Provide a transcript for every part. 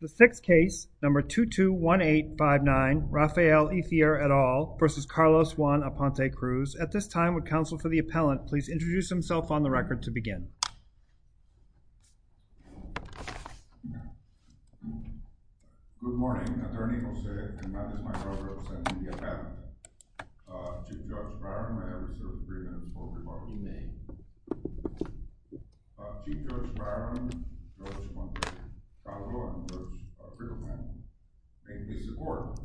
The sixth case, number 221859, Rafael Ithier et al. versus Carlos Juan Aponte Cruz. At this time, would counsel for the appellant please introduce himself on the record to begin? Good morning, Attorney Jose Hernandez, my co-representative at the appellant. Chief Judge Byron, I have reserved three minutes for rebuttal. You may. Chief Judge Byron, Judge Juan Cruz, Carl Lawrence Cruz, a friend of mine. Thank you for your support.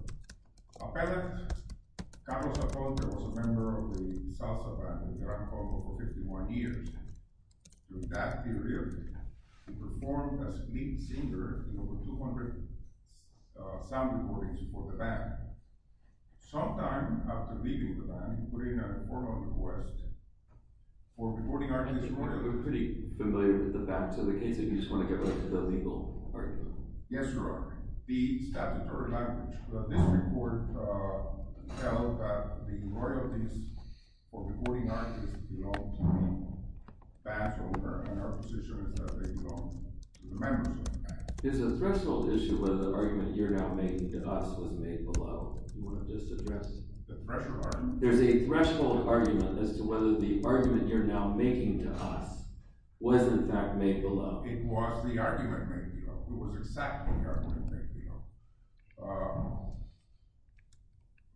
Appellant, Carlos Aponte was a member of the Salsa band in Gran Cordo for 51 years. Your dad did really well. He performed as lead singer in over 200 sound recordings for the band. Sometime after leaving the band, he made a formal request for recording arguments. Your Honor, we're pretty familiar with the facts of the case. If you just want to give us the legal argument. Yes, Your Honor. The statutory language of this report tells that the royalties for recording arguments belong to the band's owner, and our position is that they belong to the members of the band. There's a threshold issue where the argument you're now making to us was made below. Do you want to just address it? The threshold argument? There's a threshold argument as to whether the argument you're now making to us was, in fact, made below. It was the argument made below. It was exactly the argument made below.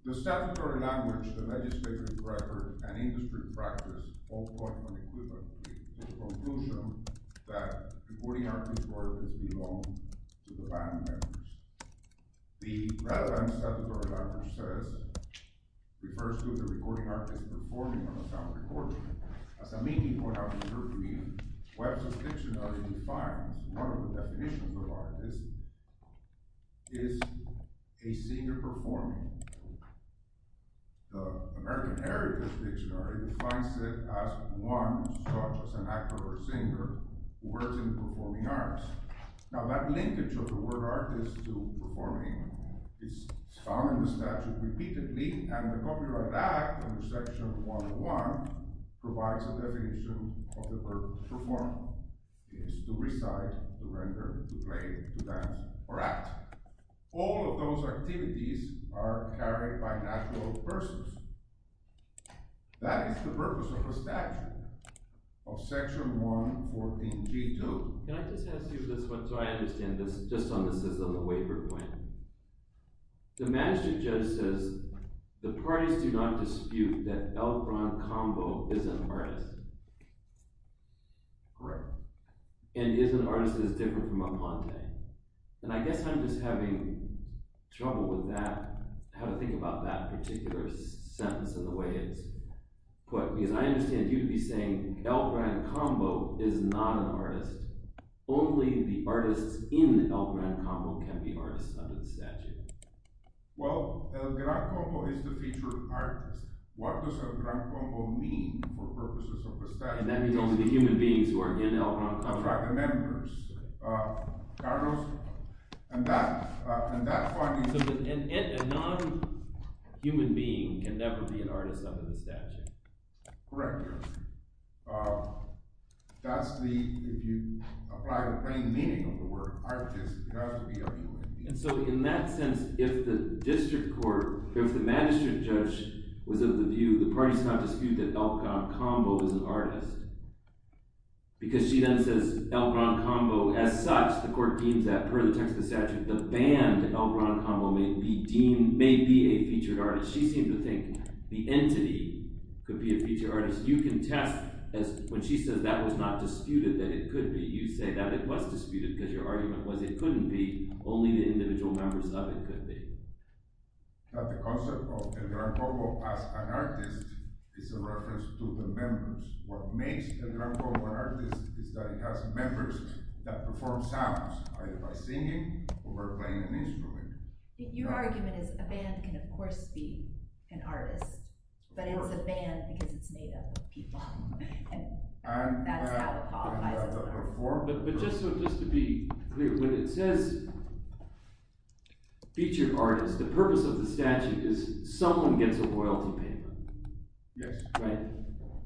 The statutory language, the legislative record, and industry practice all point unequivocally to the conclusion that recording arguments' worth is belonging to the band members. The relevance that the statutory language says refers to the recording artist performing on a sound recording. As a meeting point, I would refer to the Webster's Dictionary defines one of the definitions of artist is a singer performing. The American Heritage Dictionary defines it as one such as an actor or singer who works in the performing arts. Now, that linkage of the word artist to performing is found in the statute repeatedly, and the Copyright Act, under Section 101, provides a definition of the purpose of performing. It is to recite, to render, to play, to dance, or act. All of those activities are carried by natural persons. That is the purpose of a statute. Of Section 114, G2. Can I just ask you this one, so I understand this, just on the waiver claim. The magistrate judge says the parties do not dispute that Elron Convo is an artist. Correct. And he is an artist that is different from Aponte. And I guess I'm just having trouble with that, how to think about that particular sentence and the way it's put. Because I understand you to be saying Elron Convo is not an artist. Only the artists in Elron Convo can be artists under the statute. Well, Elron Convo is the featured artist. What does Elron Convo mean for purposes of the statute? And that means only the human beings who are in Elron Convo. Contracted members. A non-human being can never be an artist under the statute. Correct, Your Honor. That's the, if you apply the plain meaning of the word artist, it has to be a human being. And so in that sense, if the district court, if the magistrate judge was of the view the parties do not dispute that Elron Convo is an artist, because she then says Elron Convo as such, the court deems that per the text of the statute, the band Elron Convo may be deemed, may be a featured artist. But she seemed to think the entity could be a featured artist. You can test, when she says that was not disputed that it could be, you say that it was disputed because your argument was it couldn't be, only the individual members of it could be. But the concept of Elron Convo as an artist is a reference to the members. What makes Elron Convo an artist is that it has members that perform sounds either by singing or by playing an instrument. Your argument is a band can of course be an artist, but it's a band because it's made up of people. And that's how it qualifies as a performance. But just to be clear, when it says featured artist, the purpose of the statute is someone gets a royalty payment. Yes. Right?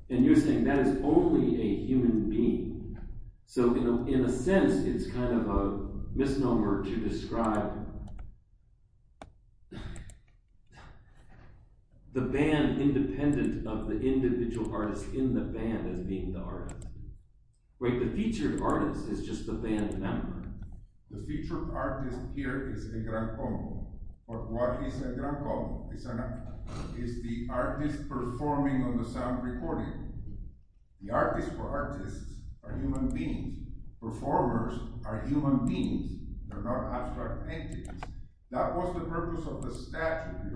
And you're saying that is only a human being. So in a sense, it's kind of a misnomer to describe the band independent of the individual artist in the band as being the artist. Wait, the featured artist is just the band member. The featured artist here is Elron Convo. But what is Elron Convo? It's the artist performing on the sound recording. The artist or artists are human beings. Performers are human beings. They're not abstract paintings. That was the purpose of the statute,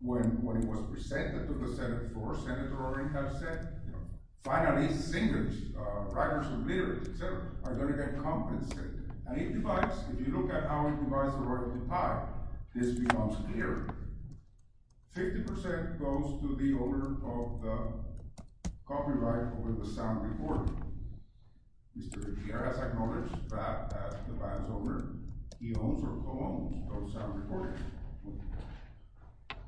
when it was presented to the Senate before Senator Orrin has said, finally singers, writers and leaders, et cetera, are going to get compensated. And if you look at how it provides the right to pie, this belongs here. 50% goes to the owner of the copyright over the sound recording. Mr. Gutierrez acknowledged that the band's owner he owns or owns those sound recordings.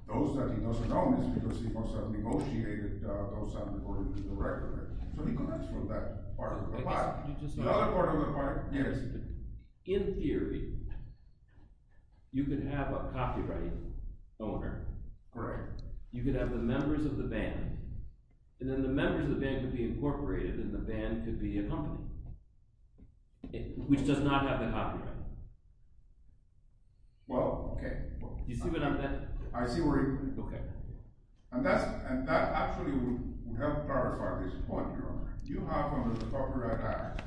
Those that he doesn't own is because he must have negotiated those sound recordings with the recorder. So he collects from that part of the pie. The other part of the pie is... In theory, you could have a copyright owner. Correct. You could have the members of the band. And then the members of the band could be incorporated and the band could be a company, which does not have the copyright. Well, okay. You see what I'm saying? I see where you're going. And that actually would help clarify this point, Your Honor. You have under the Copyright Act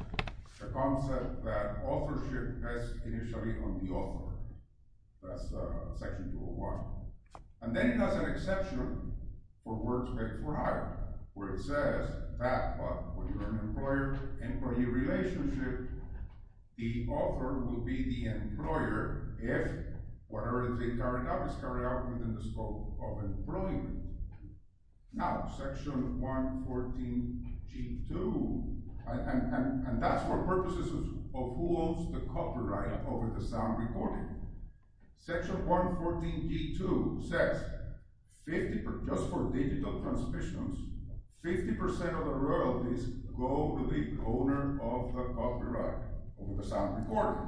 a concept that authorship rests initially on the author. That's Section 201. And then it has an exception for works made for hire, where it says that, when you're an employer-employee relationship, the author will be the employer if whatever they carry out is carried out within the scope of employment. Now, Section 114G2, and that's for purposes of who owns the copyright over the sound recording. Section 114G2 says just for digital transmissions, 50% of the royalties go to the owner of the copyright over the sound recording.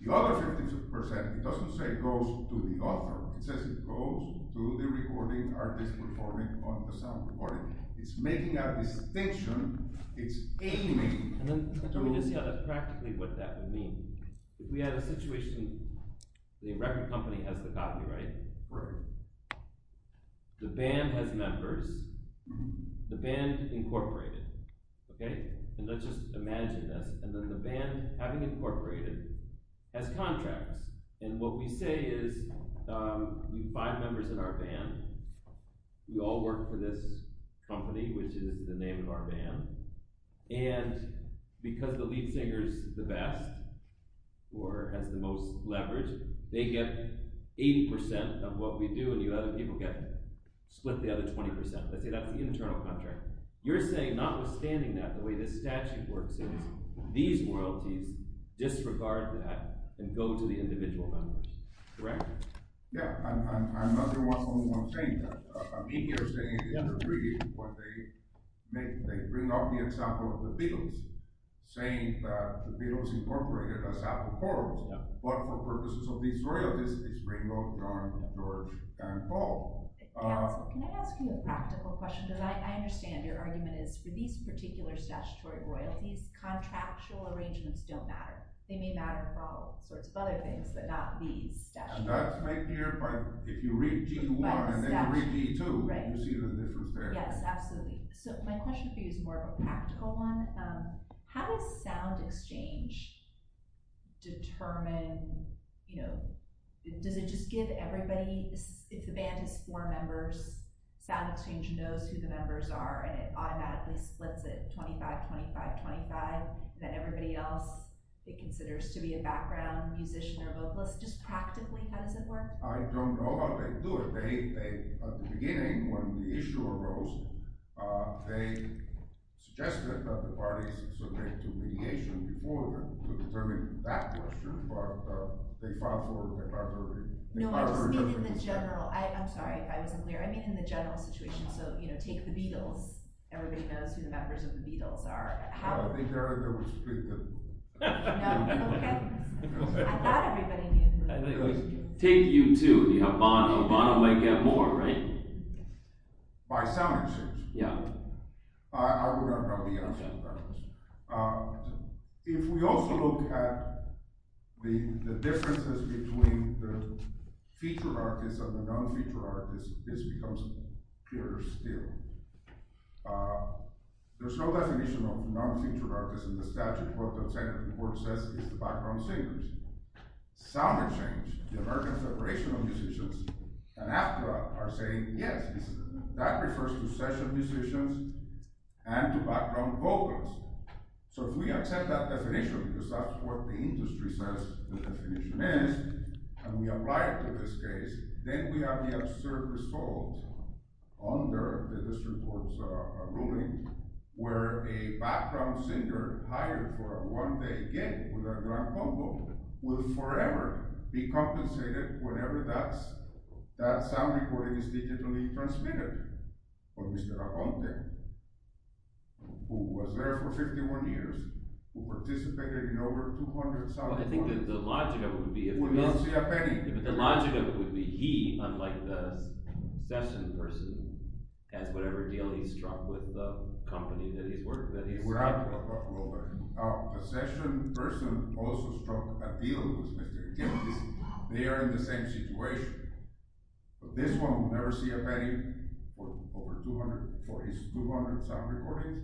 The other 50%, it doesn't say it goes to the author. It says it goes to the recording artist performing on the sound recording. It's making a distinction. It's aiming... And then, I mean, to see practically what that would mean. If we had a situation the record company has the copyright, right? The band has members. The band incorporated. Okay? And let's just imagine this. And then the band, having incorporated, has contracts. And what we say is, we have five members in our band. We all work for this company, which is the name of our band. And because the lead singer's the best or has the most leverage, they get 80% of what we do and the other people get, split the other 20%. Let's say that's the internal contract. You're saying, notwithstanding that, the way this statute works is these royalties disregard that and go to the individual members. Correct? Yeah. I'm not the only one saying that. I mean, you're saying, they bring up the example of the Beatles, saying that the Beatles incorporated us out of the chorus. But for purposes of these royalties, it's Ringo, John, George, and Paul. Can I ask you a practical question? Because I understand your argument is, for these particular statutory royalties, contractual arrangements don't matter. They may matter for all sorts of other things, but not these statutes. That's making it like, if you read G1 and then you read G2, you see the difference there. Yes, absolutely. So my question for you is more of a practical one. How does sound exchange determine, you know, does it just give everybody, if the band has four members, sound exchange knows who the members are and it automatically splits it 25-25-25, then everybody else, it considers to be a background musician or vocalist. Just practically, how does it work? I don't know, but they do it. At the beginning, when the issue arose, they suggested that the parties submit to mediation to determine if that was true, but they filed for the contrary. No, I just mean in the general. I'm sorry if I wasn't clear. I mean in the general situation. So, you know, take The Beatles. Everybody knows who the members of The Beatles are. I think Eric, that was pretty good. No? Okay. I thought everybody knew. Take U2. Yvonne might get more, right? By sound exchange? Yeah. I would agree. If we also look at the differences between the featured artists and the non-featured artists, this becomes clearer still. There's no definition of non-featured artists in the statute. Sound exchange, the American Federation of Musicians and ACTRA are saying yes. That refers to session musicians and to background vocals. So if we accept that definition, because that's what the industry says the definition is, and we apply it to this case, then we have the absurd result under the district court's ruling where a background singer hired for a one-day gig with a grand combo will forever be compensated whenever that sound recording is digitally transmitted. But Mr. Aponte, who was there for 51 years, who participated in over 200 sound recordings, would not see a penny. But the logic of it would be he, unlike the session person, has whatever deal he struck with the company that he's working for. We'll learn. Now, the session person also struck a deal with Mr. Aguirre. They are in the same situation. But this one will never see a penny for his 200 sound recordings,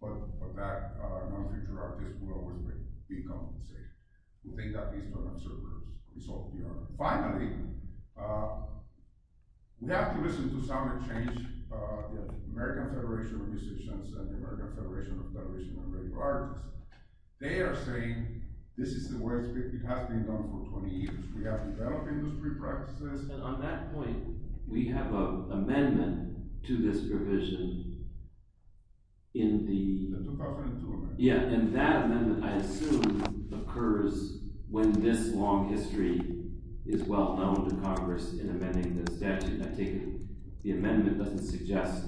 but that non-featured artist will always be compensated. We think that these are absurd results. Finally, we have to listen to sound exchange in the American Federation of Musicians and the American Federation of Radio Artists. They are saying, this is the way it has been done for 20 years. We have developed industry practices. And on that point, we have an amendment to this provision in the... The 2002 amendment. Yeah, and that amendment, I assume, occurs when this long history is well known to Congress in amending the statute. The amendment doesn't suggest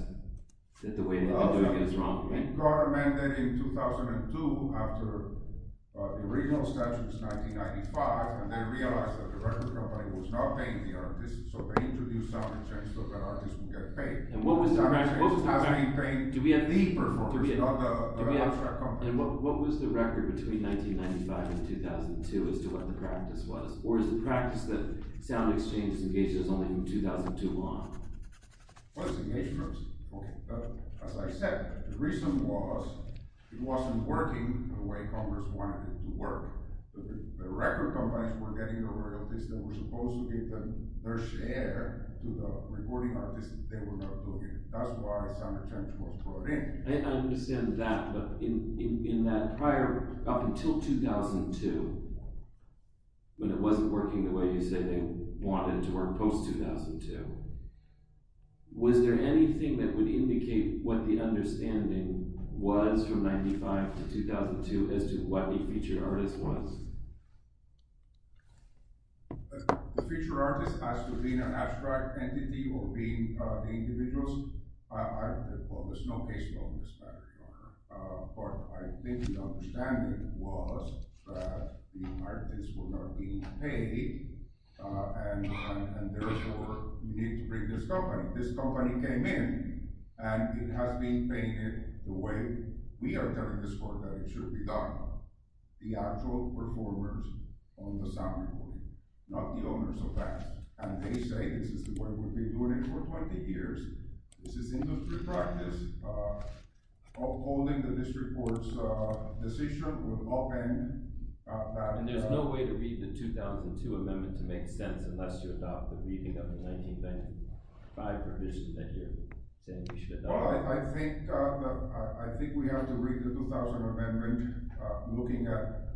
that the way they're doing it is wrong, right? Well, the amendment in 2002, after the original statute was 1995, and they realized that the record company was not paying the artists, so they introduced sound exchange so that artists would get paid. And what was the record... Sound exchange has been paying the performers, not the record company. And what was the record between 1995 and 2002 as to what the practice was? Or is the practice that sound exchange engages only from 2002 on? Well, it's engaged first. Okay, but as I said, the reason was it wasn't working the way Congress wanted it to work. The record companies were getting over the artists that were supposed to give their share to the recording artists that they were not doing it. That's why sound exchange was brought in. I understand that, but in that prior... Up until 2002, when it wasn't working the way you said they wanted it to work post-2002, was there anything that would indicate what the understanding was from 1995 to 2002 as to what the featured artist was? The featured artist has to be an abstract entity or be the individuals... Well, there's no case law in this matter. But I think the understanding was that the artists were not being paid and therefore we need to bring this company. This company came in and it has been painted the way we are telling this court that it should be done. The actual performers on the sound recording, not the owners of that. And they say this is the way we've been doing it for 20 years. This is industry practice. Upholding the district court's decision would often... And there's no way to read the 2002 amendment to make sense unless you adopt the reading of the 1995 revision that you're saying we should adopt. Well, I think we have to read the 2000 amendment looking at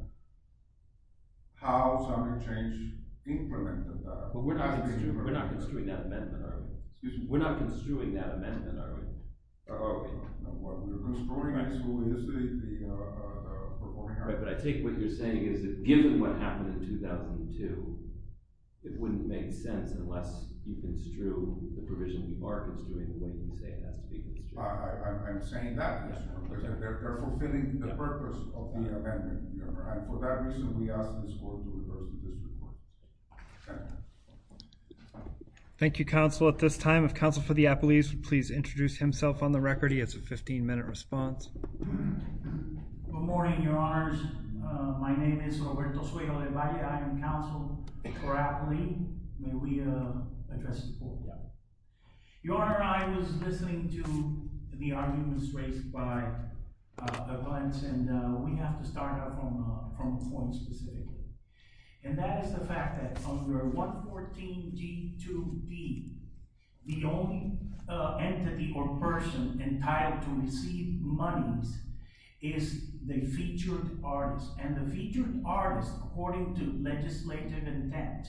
how sound and change implemented that. But we're not construing that amendment, are we? Excuse me? We're not construing that amendment, are we? What we're construing, actually, is the performing art. But I take what you're saying is that given what happened in 2002, it wouldn't make sense unless you construe the provision we are construing the way we say it has to be construed. I'm saying that, Mr. Representative. They're fulfilling the purpose of the amendment. And for that reason, we ask this court to reverse the district court. Thank you. Thank you, Counsel. At this time, if Counsel for the Appellees would please introduce himself on the record. He has a 15-minute response. Good morning, Your Honors. My name is Roberto Suello de Valle. I am Counsel for Appellees. May we address the court? Yeah. Your Honor, I was listening to the arguments raised by the clients, and we have to start out from a point specifically. And that is the fact that under 114G2B, the only entity or person entitled to receive monies is the featured artist. And the featured artist, according to legislative intent,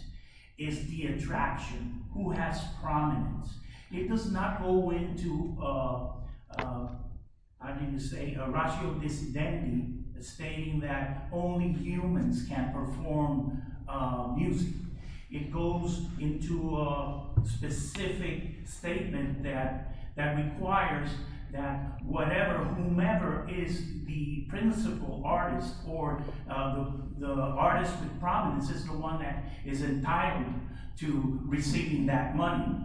is the attraction who has prominence. It does not go into, I mean to say, a ratio dissidentity stating that only humans can perform music. It goes into a specific statement that requires that whatever, whomever is the principal artist or the artist with prominence is the one that is entitled to receiving that money.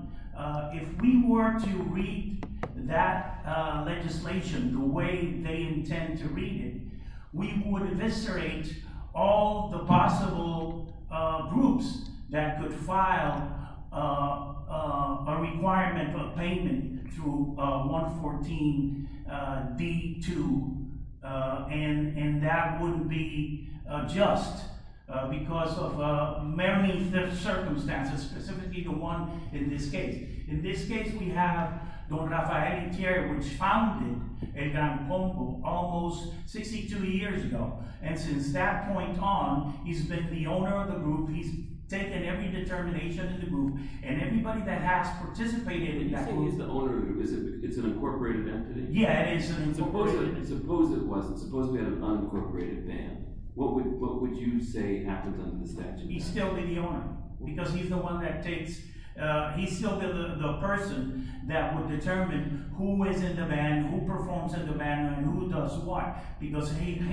If we were to read that legislation the way they intend to read it, we would eviscerate all the possible groups that could file a requirement of payment through 114D2. And that would be just because of merely the circumstances, specifically the one in this case. In this case, we have Don Rafael Gutierrez, which founded El Campombo almost 62 years ago. And since that point on, he's been the owner of the group. He's taken every determination in the group. And everybody that has participated in that group... He's the owner of the group. It's an incorporated entity? Yeah, it is an incorporated entity. Suppose it wasn't. Suppose we had an unincorporated band. What would you say happens under the statute? He'd still be the owner. Because he's the one that takes... He'd still be the person that would determine who is in the band, who performs in the band, and who does what. Because him,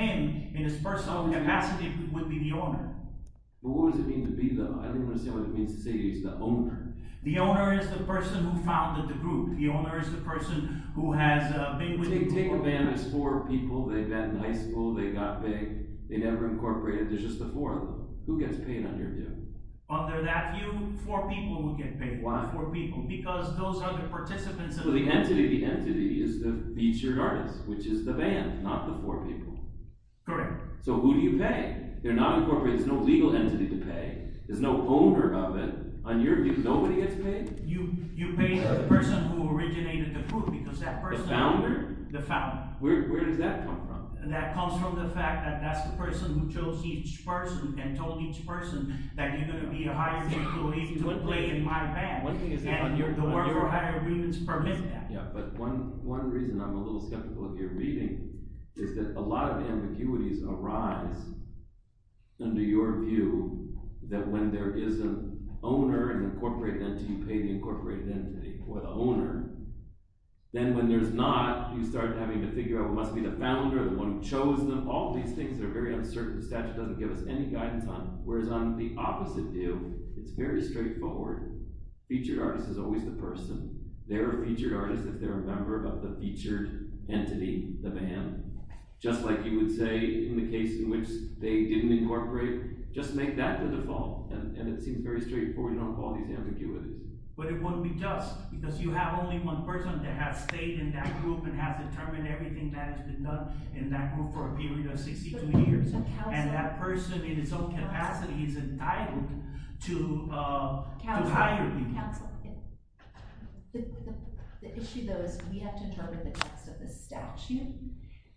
in his personal capacity, would be the owner. But what does it mean to be the... I don't understand what it means to say he's the owner. The owner is the person who founded the group. The owner is the person who has been with the group. Take a band that's four people. They met in high school. They got paid. They never incorporated. There's just the four of them. Who gets paid under you? Under that view, four people would get paid. Why? Because those are the participants... So the entity is the featured artist, which is the band, not the four people. Correct. So who do you pay? They're not incorporated. There's no legal entity to pay. There's no owner of it. On your view, nobody gets paid? You pay the person who originated the group, because that person... The founder? The founder. Where does that come from? That comes from the fact that that's the person who chose each person and told each person that you're going to be a hired employee to play in my band. And the work for hire agreements permit that. But one reason I'm a little skeptical of your reading is that a lot of ambiguities arise under your view that when there is an owner and incorporated entity, you pay the incorporated entity for the owner. Then when there's not, you start having to figure out who must be the founder, the one who chose them. All these things are very uncertain. The statute doesn't give us any guidance on it. Whereas on the opposite view, it's very straightforward. Featured artist is always the person. They're a featured artist if they're a member of the featured entity, the band. Just like you would say in the case in which they didn't incorporate, just make that the default. And it seems very straightforward. Don't call these ambiguities. But it wouldn't be just, because you have only one person that has stayed in that group and has determined everything that has been done in that group for a period of 62 years. And that person in his own capacity is entitled to hire you. The issue, though, is we have to interpret the text of the statute.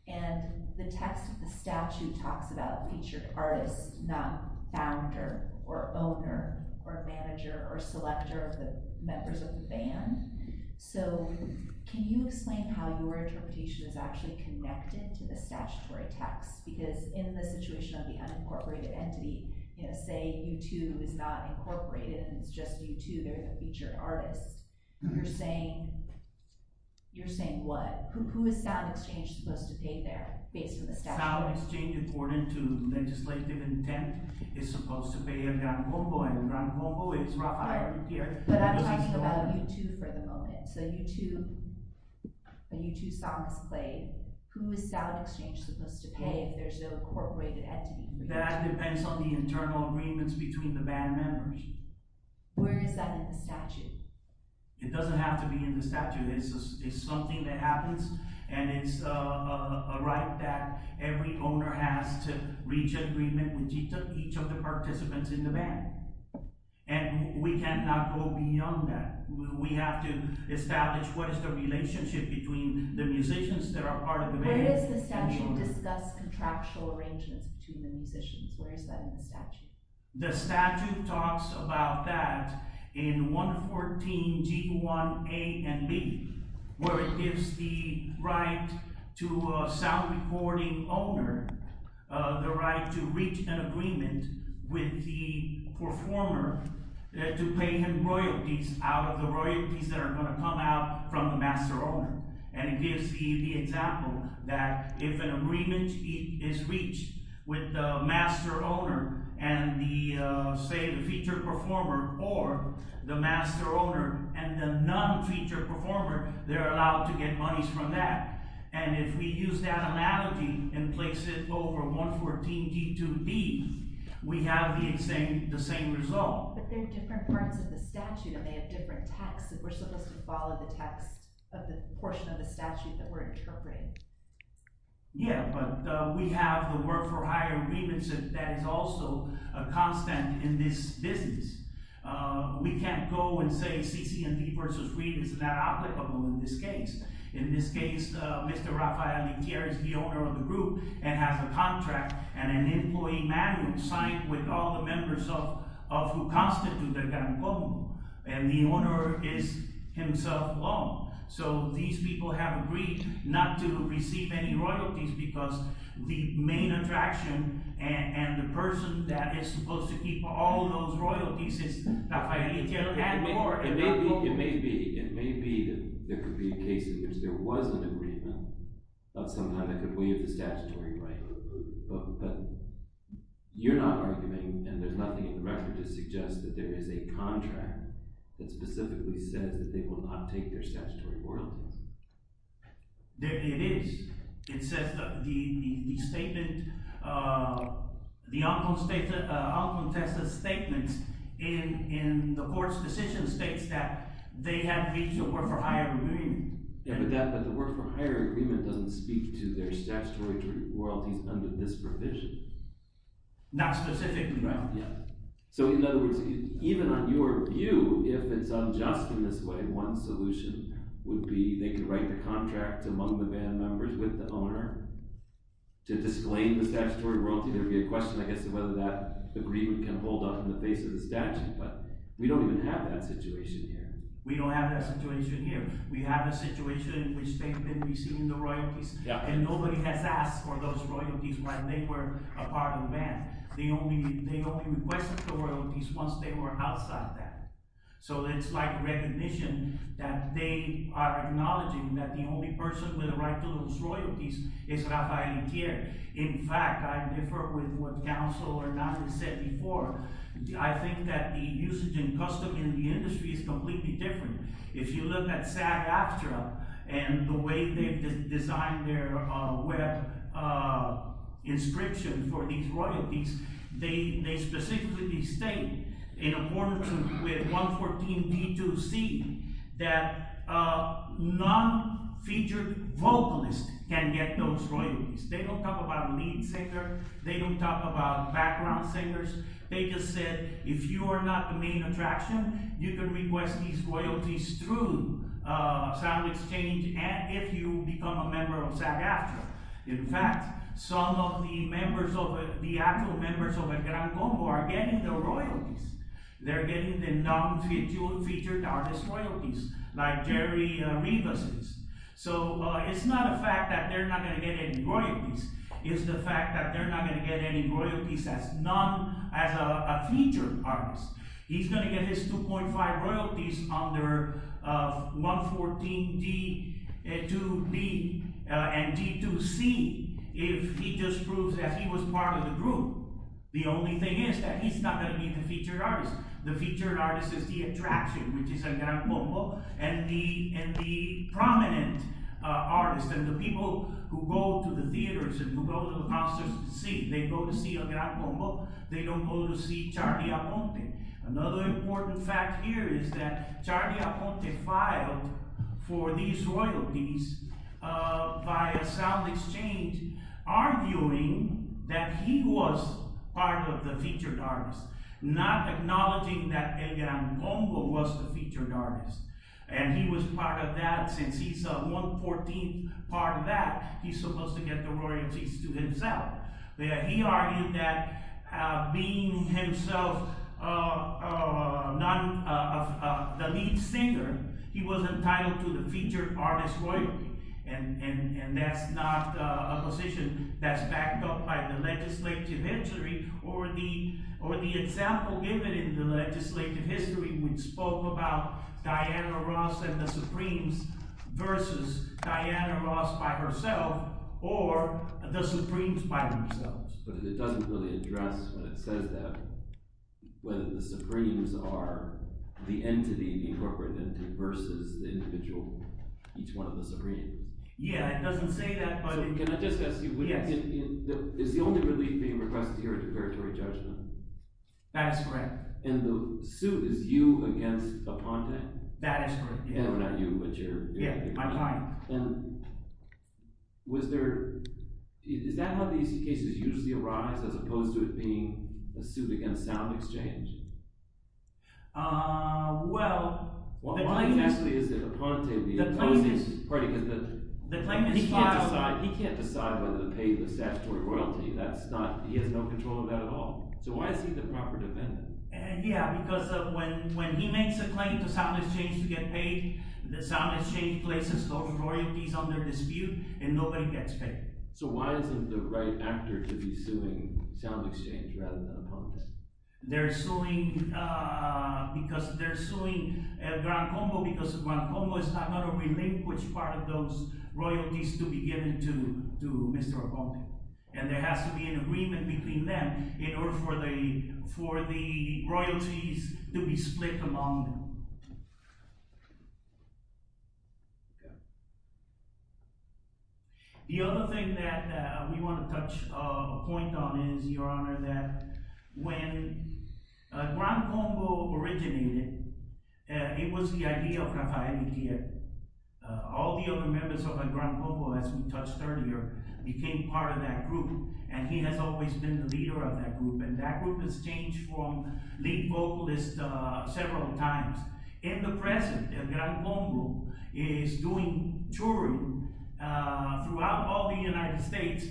And the text of the statute talks about featured artist, not founder or owner or manager or selector of the members of the band. So can you explain how your interpretation is actually connected to the statutory text? Because in the situation of the unincorporated entity, say U2 is not incorporated and it's just U2, they're a featured artist. You're saying what? Who is SoundExchange supposed to pay there based on the statute? SoundExchange, according to legislative intent, is supposed to pay El Gran Combo, and El Gran Combo is Rafael Rivera. But I'm talking about U2 for the moment. So U2, a U2 song is played. Who is SoundExchange supposed to pay if there's no incorporated entity? That depends on the internal agreements between the band members. Where is that in the statute? It doesn't have to be in the statute. It's something that happens, and it's a right that every owner has to reach an agreement with each of the participants in the band. And we cannot go beyond that. We have to establish what is the relationship between the musicians that are part of the band... Where does the statute discuss contractual arrangements between the musicians? Where is that in the statute? The statute talks about that in 114 G1 A and B, where it gives the right to a sound recording owner the right to reach an agreement with the performer to pay him royalties out of the royalties that are going to come out from the master owner. And it gives the example that if an agreement is reached with the master owner and, say, the featured performer or the master owner and the non-featured performer, they're allowed to get monies from that. And if we use that analogy and place it over 114 G2 B, we have the same result. But they're different parts of the statute, and they have different texts, and we're supposed to follow the text of the portion of the statute that we're interpreting. Yeah, but we have the work-for-hire agreements that is also a constant in this business. We can't go and say CC&D v. Reed is not applicable in this case. In this case, Mr. Rafael Yquier is the owner of the group and has a contract and an employee manual signed with all the members of who constitute El Caracol, and the owner is himself alone. So these people have agreed not to receive any royalties because the main attraction and the person that is supposed to keep all those royalties is Rafael Yquier and more. It may be. It may be that there could be a case in which there was an agreement of some kind that could waive the statutory right. But you're not arguing, and there's nothing in the record to suggest that there is a contract that specifically says that they will not take their statutory royalties. It is. It says that the statement, the outcome test of statements in the court's decision states that they have reached a work-for-hire agreement. Yeah, but the work-for-hire agreement doesn't speak to their statutory royalties under this provision. Not specifically, right? Yeah. So in other words, even on your view, if it's unjust in this way, one solution would be they could write the contract among the band members with the owner to disclaim the statutory royalty. There would be a question, I guess, of whether that agreement can hold up in the face of the statute, but we don't even have that situation here. We don't have that situation here. We have a situation in which they've been receiving the royalties, and nobody has asked for those royalties when they were a part of the band. They only requested the royalties once they were outside that. So it's like recognition that they are acknowledging that the only person with a right to those royalties is Rafael Intier. In fact, I differ with what counsel or not has said before. I think that the usage and custom in the industry is completely different. If you look at SAG-AFTRA and the way they've designed their web inscription for these royalties, they specifically state in accordance with 114p2c that non-featured vocalists can get those royalties. They don't talk about a lead singer. They don't talk about background singers. They just said, if you are not the main attraction, you can request these royalties through sound exchange and if you become a member of SAG-AFTRA. In fact, some of the actual members of El Gran Combo are getting the royalties. They're getting the non-featured artist royalties like Jerry Rivas is. So it's not a fact that they're not going to get any royalties. It's the fact that they're not going to get any royalties as a featured artist. He's going to get his 2.5 royalties under 114d2b and d2c if he just proves that he was part of the group. The only thing is that he's not going to be the featured artist. The featured artist is the attraction, which is El Gran Combo, and the prominent artist and the people who go to the theaters and who go to the concerts to see. They go to see El Gran Combo. They don't go to see Charly Aponte. Another important fact here is that Charly Aponte filed for these royalties by a sound exchange arguing that he was part of the featured artist, not acknowledging that El Gran Combo was the featured artist. And he was part of that since he's 114th part of that. He's supposed to get the royalties to himself. He argued that being himself the lead singer, he was entitled to the featured artist royalty, and that's not a position that's backed up by the legislative history or the example given in the legislative history which spoke about Diana Ross and the Supremes versus Diana Ross by herself or the Supremes by themselves. But it doesn't really address when it says that whether the Supremes are the entity, the incorporated entity, versus the individual, each one of the Supremes. Yeah, it doesn't say that, but... Can I just ask you, is the only relief being requested here a preparatory judgment? That is correct. And the suit is you against Aponte? That is correct. Yeah, I'm lying. Was there... Is that how these cases usually arise as opposed to it being a suit against sound exchange? Well... Why exactly is it Aponte the opposing party? He can't decide whether to pay the statutory royalty. He has no control of that at all. So why is he the proper defendant? Yeah, because when he makes a claim to sound exchange to get paid, the sound exchange places those royalties under dispute, and nobody gets paid. So why isn't the right actor to be suing sound exchange rather than Aponte? They're suing because they're suing Gran Combo because Gran Combo is not going to relinquish part of those royalties to be given to Mr. Aponte. And there has to be an agreement between them in order for the royalties to be split among them. The other thing that we want to touch a point on is, Your Honor, that when Gran Combo originated, it was the idea of Rafael Miquel. All the other members of Gran Combo, as we touched earlier, became part of that group, and he has always been the leader of that group, and that group has changed from lead vocalist several times. In the present, Gran Combo is doing touring throughout all the United States,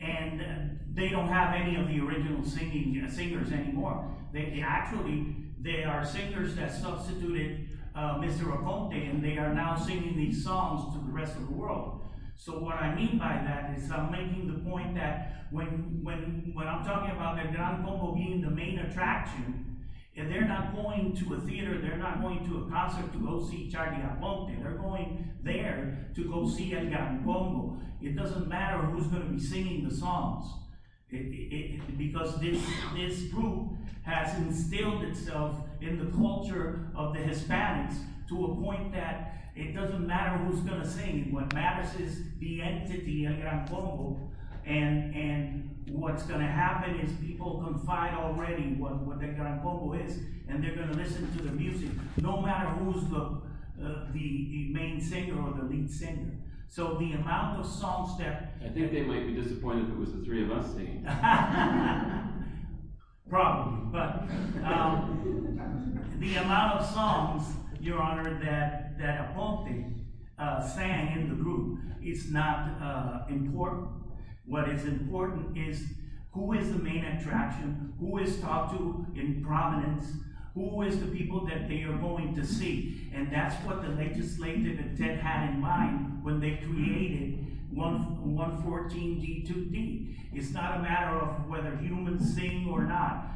and they don't have any of the original singers anymore. They actually are singers that substituted Mr. Aponte, and they are now singing these songs to the rest of the world. So what I mean by that is I'm making the point that when I'm talking about Gran Combo being the main attraction, if they're not going to a theater, they're not going to a concert to go see Charlie Aponte. They're going there to go see El Gran Combo. It doesn't matter who's going to be singing the songs, because this group has instilled itself in the culture of the Hispanics to a point that it doesn't matter who's going to sing. What matters is the entity of Gran Combo, and what's going to happen is people confide already what the Gran Combo is, and they're going to listen to the music no matter who's the main singer or the lead singer. So the amount of songs there... I think they might be disappointed if it was the three of us singing. Probably, but the amount of songs, Your Honor, that Aponte sang in the group is not important. What is important is who is the main attraction, who is talked to in prominence, who is the people that they are going to see, and that's what the legislative intent had in mind when they created 114-D2D. It's not a matter of whether humans sing or not.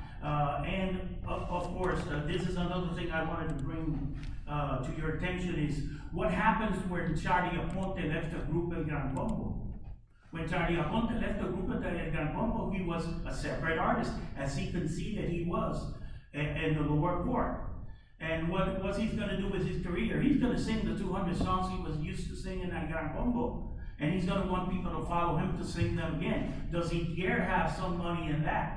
And, of course, this is another thing I wanted to bring to your attention is what happens when Charly Aponte left the group of Gran Combo? When Charly Aponte left the group of Gran Combo, he was a separate artist, as you can see that he was in the lower court. And what he's going to do with his career, he's going to sing the 200 songs he was used to sing in that Gran Combo, and he's going to want people to follow him to sing them again. Does Etier have some money in that?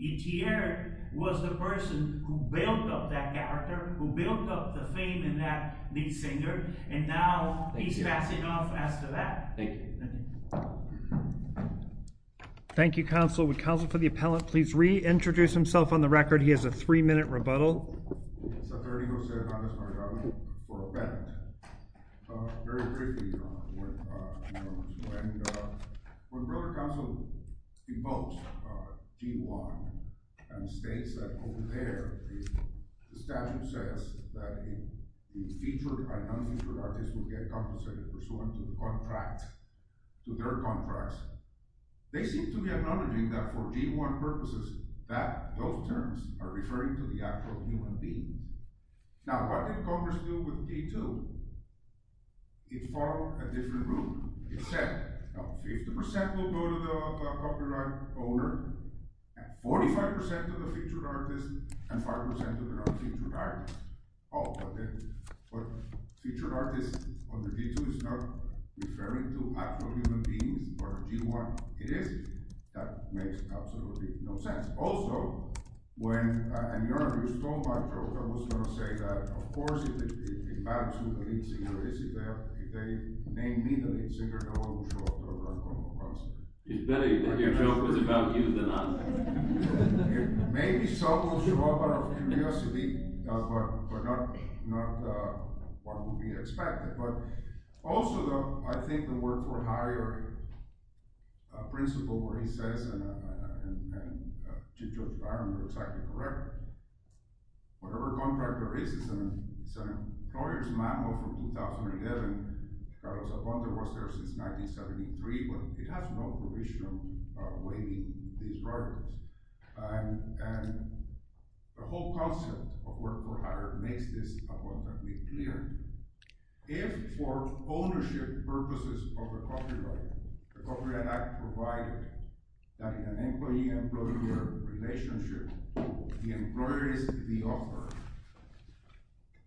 Etier was the person who built up that character, who built up the fame in that lead singer, and now he's passing off after that. Thank you. Thank you, Counsel. Would Counsel for the Appellant please reintroduce himself on the record? He has a three-minute rebuttal. Saturnio Sergantes Margaro for Appellant. Very quickly, when Brother Counsel invokes G1 and states that over there the statute says that the featured and unfeatured artists will get compensated pursuant to the contract, to their contracts, they seem to be acknowledging that for G1 purposes, those terms are referring to the act of human beings. Now, what did Congress do with G2? It formed a different rule. It said 50% will go to the copyright owner, 45% to the featured artist, and 5% to the non-featured artist. Oh, but featured artists under G2 is not referring to act of human beings for G1. It is? That makes absolutely no sense. Also, when a journalist told my joke, I was going to say that, of course, if it matters to the lead singer Isabel, if they name me the lead singer, no one will show up. It's better that your joke is about you than us. Maybe some will show up out of curiosity, but not what would be expected. Also, though, I think the work for Harry or a principle where he says and Jim Jones and Byron are exactly correct. Whatever contract there is, it's an employer's manual from 2011. Carlos Abonder was there since 1973, but it has no permission of waiving these rights. The whole concept of work for Harry makes this abundantly clear. If, for ownership purposes of the copyright, the Copyright Act provided that in an employee-employer relationship, the employer is the author,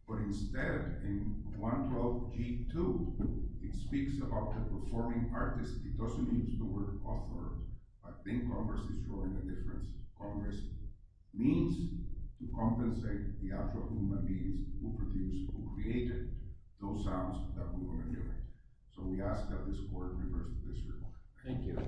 but instead in 112G2 it speaks about the performing artist. It doesn't use the word author. I think Congress is showing the difference. Congress means to compensate the actual human beings who produced, who created those sounds that we were hearing. So we ask that this Court reverse this ruling.